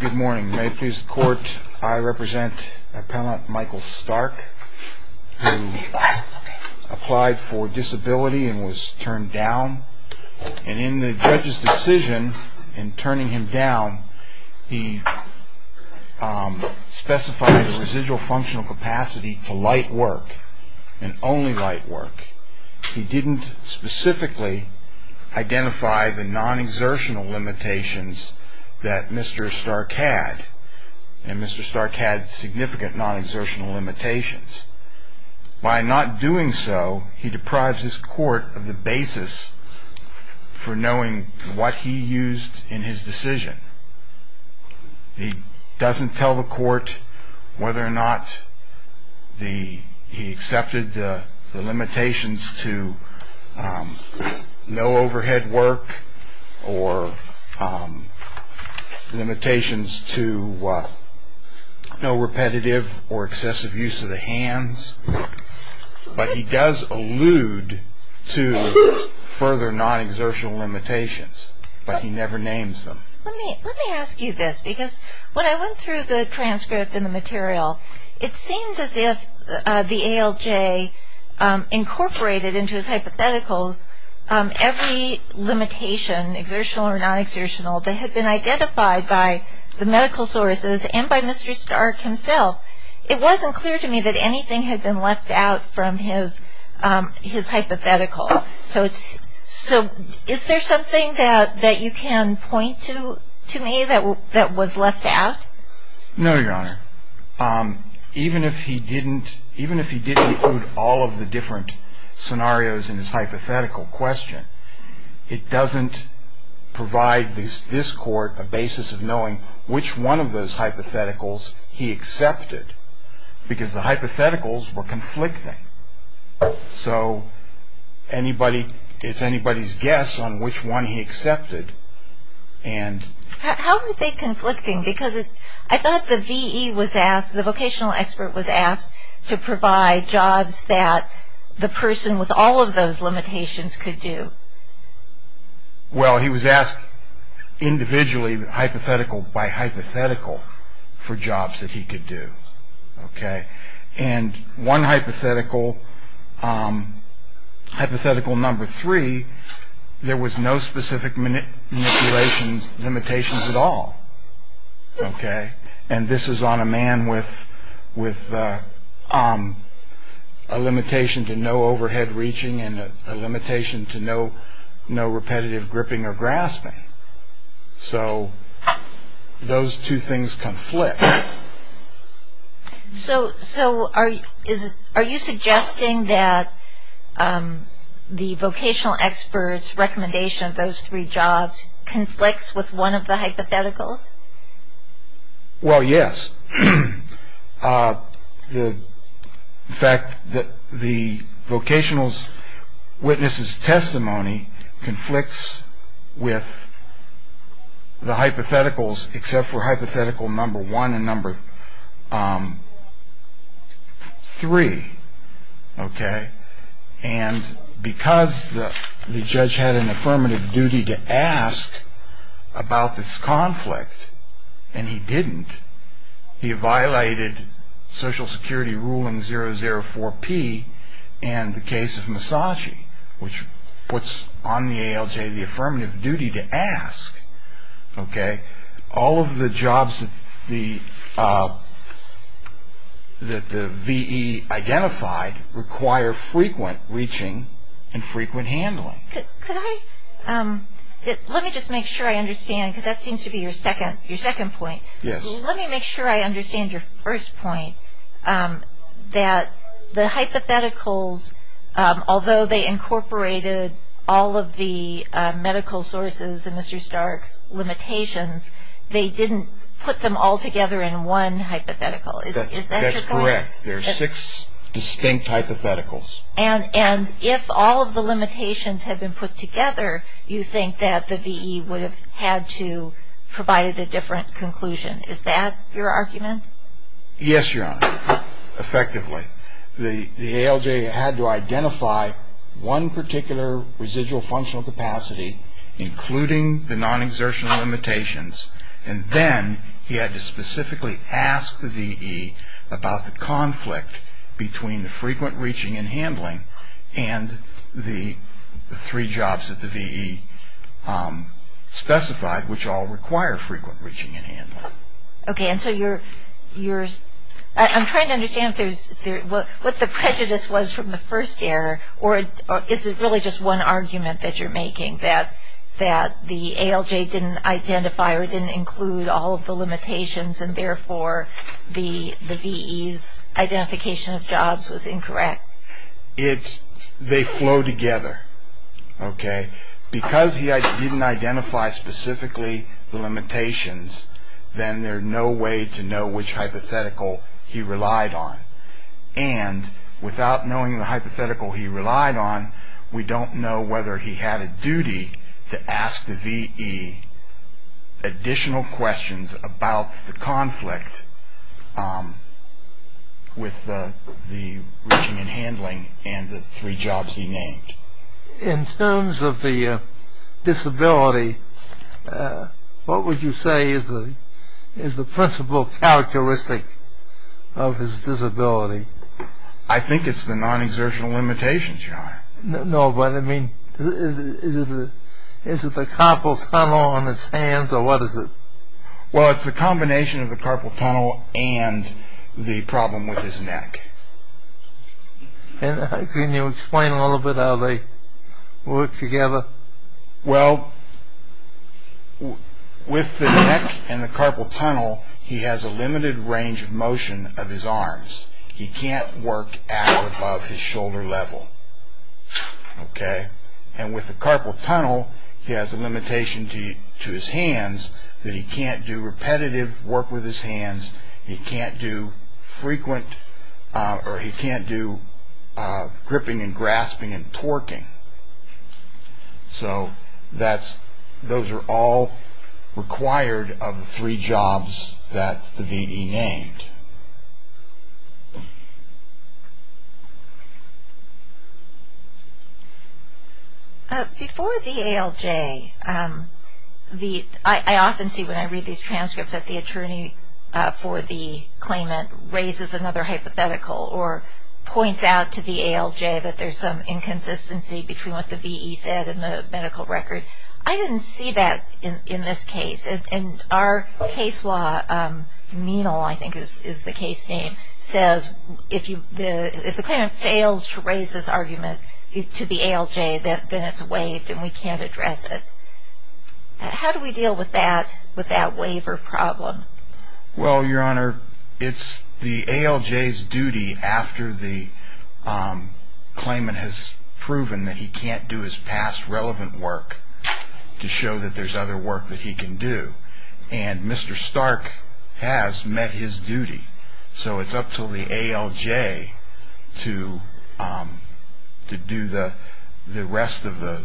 Good morning. May it please the court, I represent appellant Michael Stark, who applied for disability and was turned down. And in the judge's decision in turning him down, he specified a residual functional capacity to light work, and only light work. He didn't specifically identify the non-exertional limitations that Mr. Stark had, and Mr. Stark had significant non-exertional limitations. By not doing so, he deprives his court of the basis for knowing what he used in his decision. He doesn't tell the court whether or not he accepted the limitations to no overhead work or limitations to no repetitive or excessive use of the hands. But he does allude to further non-exertional limitations, but he never names them. Let me ask you this, because when I went through the transcript and the material, it seems as if the ALJ incorporated into his hypotheticals every limitation, exertional or non-exertional, that had been identified by the medical sources and by Mr. Stark himself. It wasn't clear to me that anything had been left out from his hypothetical. So is there something that you can point to me that was left out? No, Your Honor. Even if he didn't include all of the different scenarios in his hypothetical question, it doesn't provide this court a basis of knowing which one of those hypotheticals he accepted, because the hypotheticals were conflicting. So it's anybody's guess on which one he accepted. How were they conflicting? Because I thought the vocational expert was asked to provide jobs that the person with all of those limitations could do. Well, he was asked individually, hypothetical by hypothetical, for jobs that he could do. And one hypothetical, hypothetical number three, there was no specific manipulation limitations at all. And this is on a man with a limitation to no overhead reaching and a limitation to no repetitive gripping or grasping. So those two things conflict. So are you suggesting that the vocational expert's recommendation of those three jobs conflicts with one of the hypotheticals? Well, yes. The fact that the vocational witness's testimony conflicts with the hypotheticals, except for hypothetical number one and number three. OK. And because the judge had an affirmative duty to ask about this conflict and he didn't, he violated Social Security Ruling 004-P and the case of Massachi, which puts on the ALJ the affirmative duty to ask. OK. All of the jobs that the VE identified require frequent reaching and frequent handling. Could I, let me just make sure I understand, because that seems to be your second point. Yes. Let me make sure I understand your first point, that the hypotheticals, although they incorporated all of the medical sources in Mr. Stark's limitations, they didn't put them all together in one hypothetical. Is that correct? That's correct. There are six distinct hypotheticals. And if all of the limitations had been put together, you think that the VE would have had to provide a different conclusion. Is that your argument? Yes, Your Honor, effectively. The ALJ had to identify one particular residual functional capacity, including the non-exertion limitations, and then he had to specifically ask the VE about the conflict between the frequent reaching and handling and the three jobs that the VE specified, which all require frequent reaching and handling. OK. And so you're, I'm trying to understand what the prejudice was from the first error, or is it really just one argument that you're making, that the ALJ didn't identify or didn't include all of the limitations, and therefore the VE's identification of jobs was incorrect? It's, they flow together, OK? Because he didn't identify specifically the limitations, then there's no way to know which hypothetical he relied on. And without knowing the hypothetical he relied on, we don't know whether he had a duty to ask the VE additional questions about the conflict with the reaching and handling and the three jobs he named. In terms of the disability, what would you say is the principal characteristic of his disability? I think it's the non-exertion limitations, Your Honor. No, but I mean, is it the carpal tunnel on his hands, or what is it? Well, it's the combination of the carpal tunnel and the problem with his neck. Can you explain a little bit how they work together? Well, with the neck and the carpal tunnel, he has a limited range of motion of his arms. He can't work out above his shoulder level, OK? And with the carpal tunnel, he has a limitation to his hands, that he can't do repetitive work with his hands, he can't do frequent or he can't do gripping and grasping and torquing. So those are all required of the three jobs that the VE named. Before the ALJ, I often see when I read these transcripts that the attorney for the claimant raises another hypothetical or points out to the ALJ that there's some inconsistency between what the VE said and the medical record. I didn't see that in this case. And our case law, Menal, I think is the case name, says if the claimant fails to raise this argument to the ALJ, then it's waived and we can't address it. How do we deal with that waiver problem? Well, Your Honor, it's the ALJ's duty after the claimant has proven that he can't do his past relevant work to show that there's other work that he can do. And Mr. Stark has met his duty, so it's up to the ALJ to do the rest of the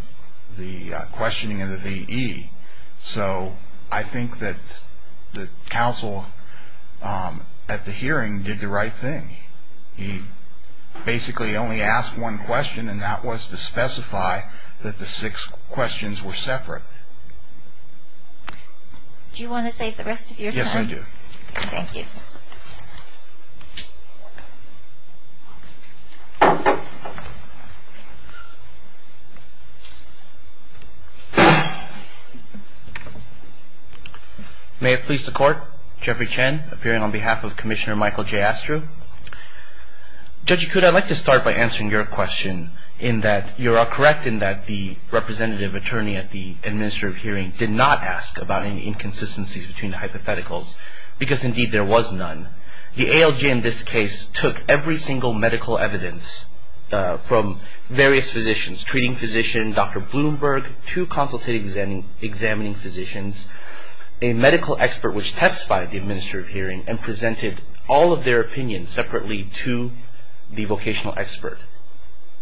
questioning of the VE. So I think that the counsel at the hearing did the right thing. He basically only asked one question, and that was to specify that the six questions were separate. Do you want to save the rest of your time? Yes, I do. Thank you. May it please the Court. Jeffrey Chen, appearing on behalf of Commissioner Michael J. Astru. Judge Yakut, I'd like to start by answering your question in that you are correct in that the representative attorney at the administrative hearing did not ask about any inconsistencies between the hypotheticals, because indeed there was none. The ALJ in this case took every single medical evidence from various physicians, treating physician, Dr. Bloomberg, two consultative examining physicians, a medical expert which testified at the administrative hearing and presented all of their opinions separately to the vocational expert.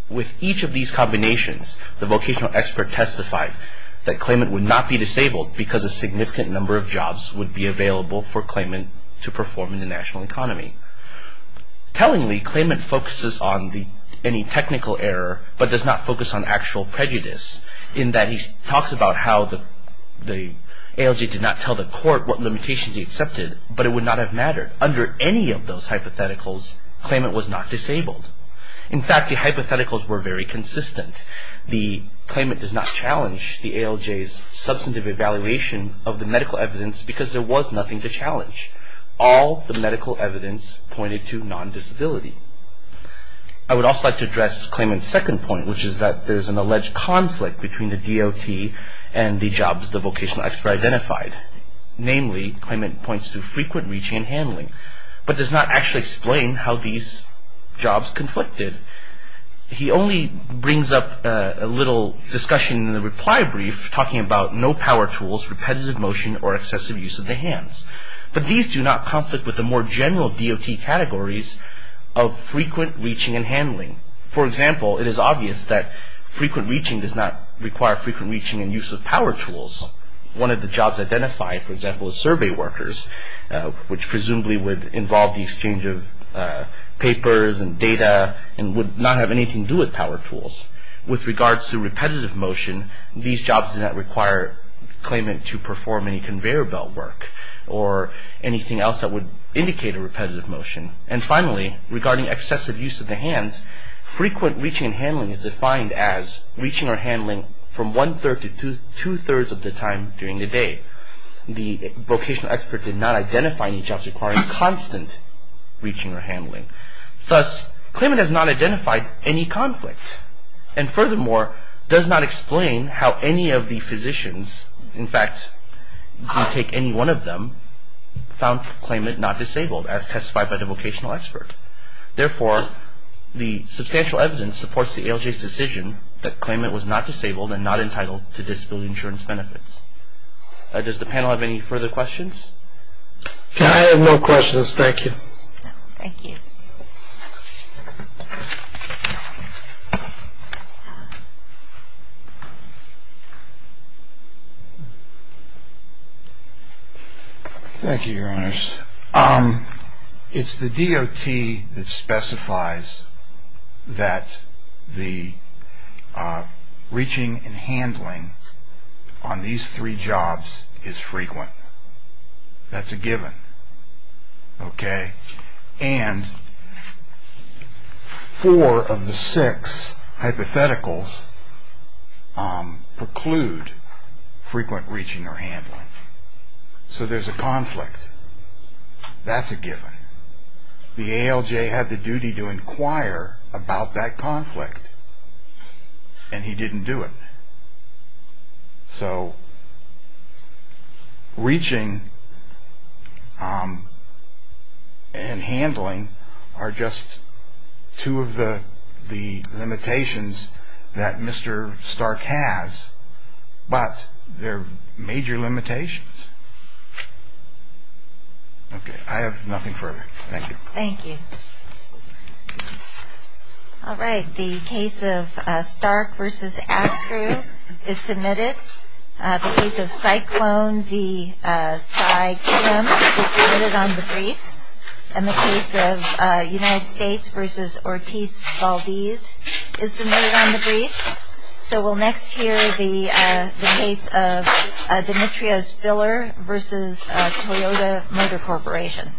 With each of these combinations, the vocational expert testified that claimant would not be disabled because a significant number of jobs would be available for claimant to perform in the national economy. Tellingly, claimant focuses on any technical error but does not focus on actual prejudice in that he talks about how the ALJ did not tell the Court what limitations he accepted, but it would not have mattered. Under any of those hypotheticals, claimant was not disabled. In fact, the hypotheticals were very consistent. The claimant does not challenge the ALJ's substantive evaluation of the medical evidence because there was nothing to challenge. All the medical evidence pointed to non-disability. I would also like to address claimant's second point, which is that there's an alleged conflict between the DOT and the jobs the vocational expert identified. Namely, claimant points to frequent reaching and handling, but does not actually explain how these jobs conflicted. He only brings up a little discussion in the reply brief, talking about no power tools, repetitive motion, or excessive use of the hands. But these do not conflict with the more general DOT categories of frequent reaching and handling. For example, it is obvious that frequent reaching does not require frequent reaching and use of power tools. One of the jobs identified, for example, is survey workers, which presumably would involve the exchange of papers and data and would not have anything to do with power tools. With regards to repetitive motion, these jobs do not require claimant to perform any conveyor belt work or anything else that would indicate a repetitive motion. And finally, regarding excessive use of the hands, frequent reaching and handling is defined as reaching or handling from one-third to two-thirds of the time during the day. The vocational expert did not identify any jobs requiring constant reaching or handling. Thus, claimant has not identified any conflict and furthermore, does not explain how any of the physicians, in fact, if you take any one of them, found claimant not disabled as testified by the vocational expert. Therefore, the substantial evidence supports the ALJ's decision that claimant was not disabled and not entitled to disability insurance benefits. Does the panel have any further questions? I have no questions. Thank you. Thank you, Your Honors. It's the DOT that specifies that the reaching and handling on these three jobs is frequent. That's a given, okay? And four of the six hypotheticals preclude frequent reaching or handling. So there's a conflict. That's a given. The ALJ had the duty to inquire about that conflict and he didn't do it. So reaching and handling are just two of the limitations that Mr. Stark has, but they're major limitations. Okay. I have nothing further. Thank you. Thank you. All right. The case of Stark v. Astru is submitted. The case of Cyclone v. Cy Kim is submitted on the briefs. And the case of United States v. Ortiz-Valdez is submitted on the briefs. So we'll next hear the case of Demetrios-Filler v. Toyota Motor Corporation.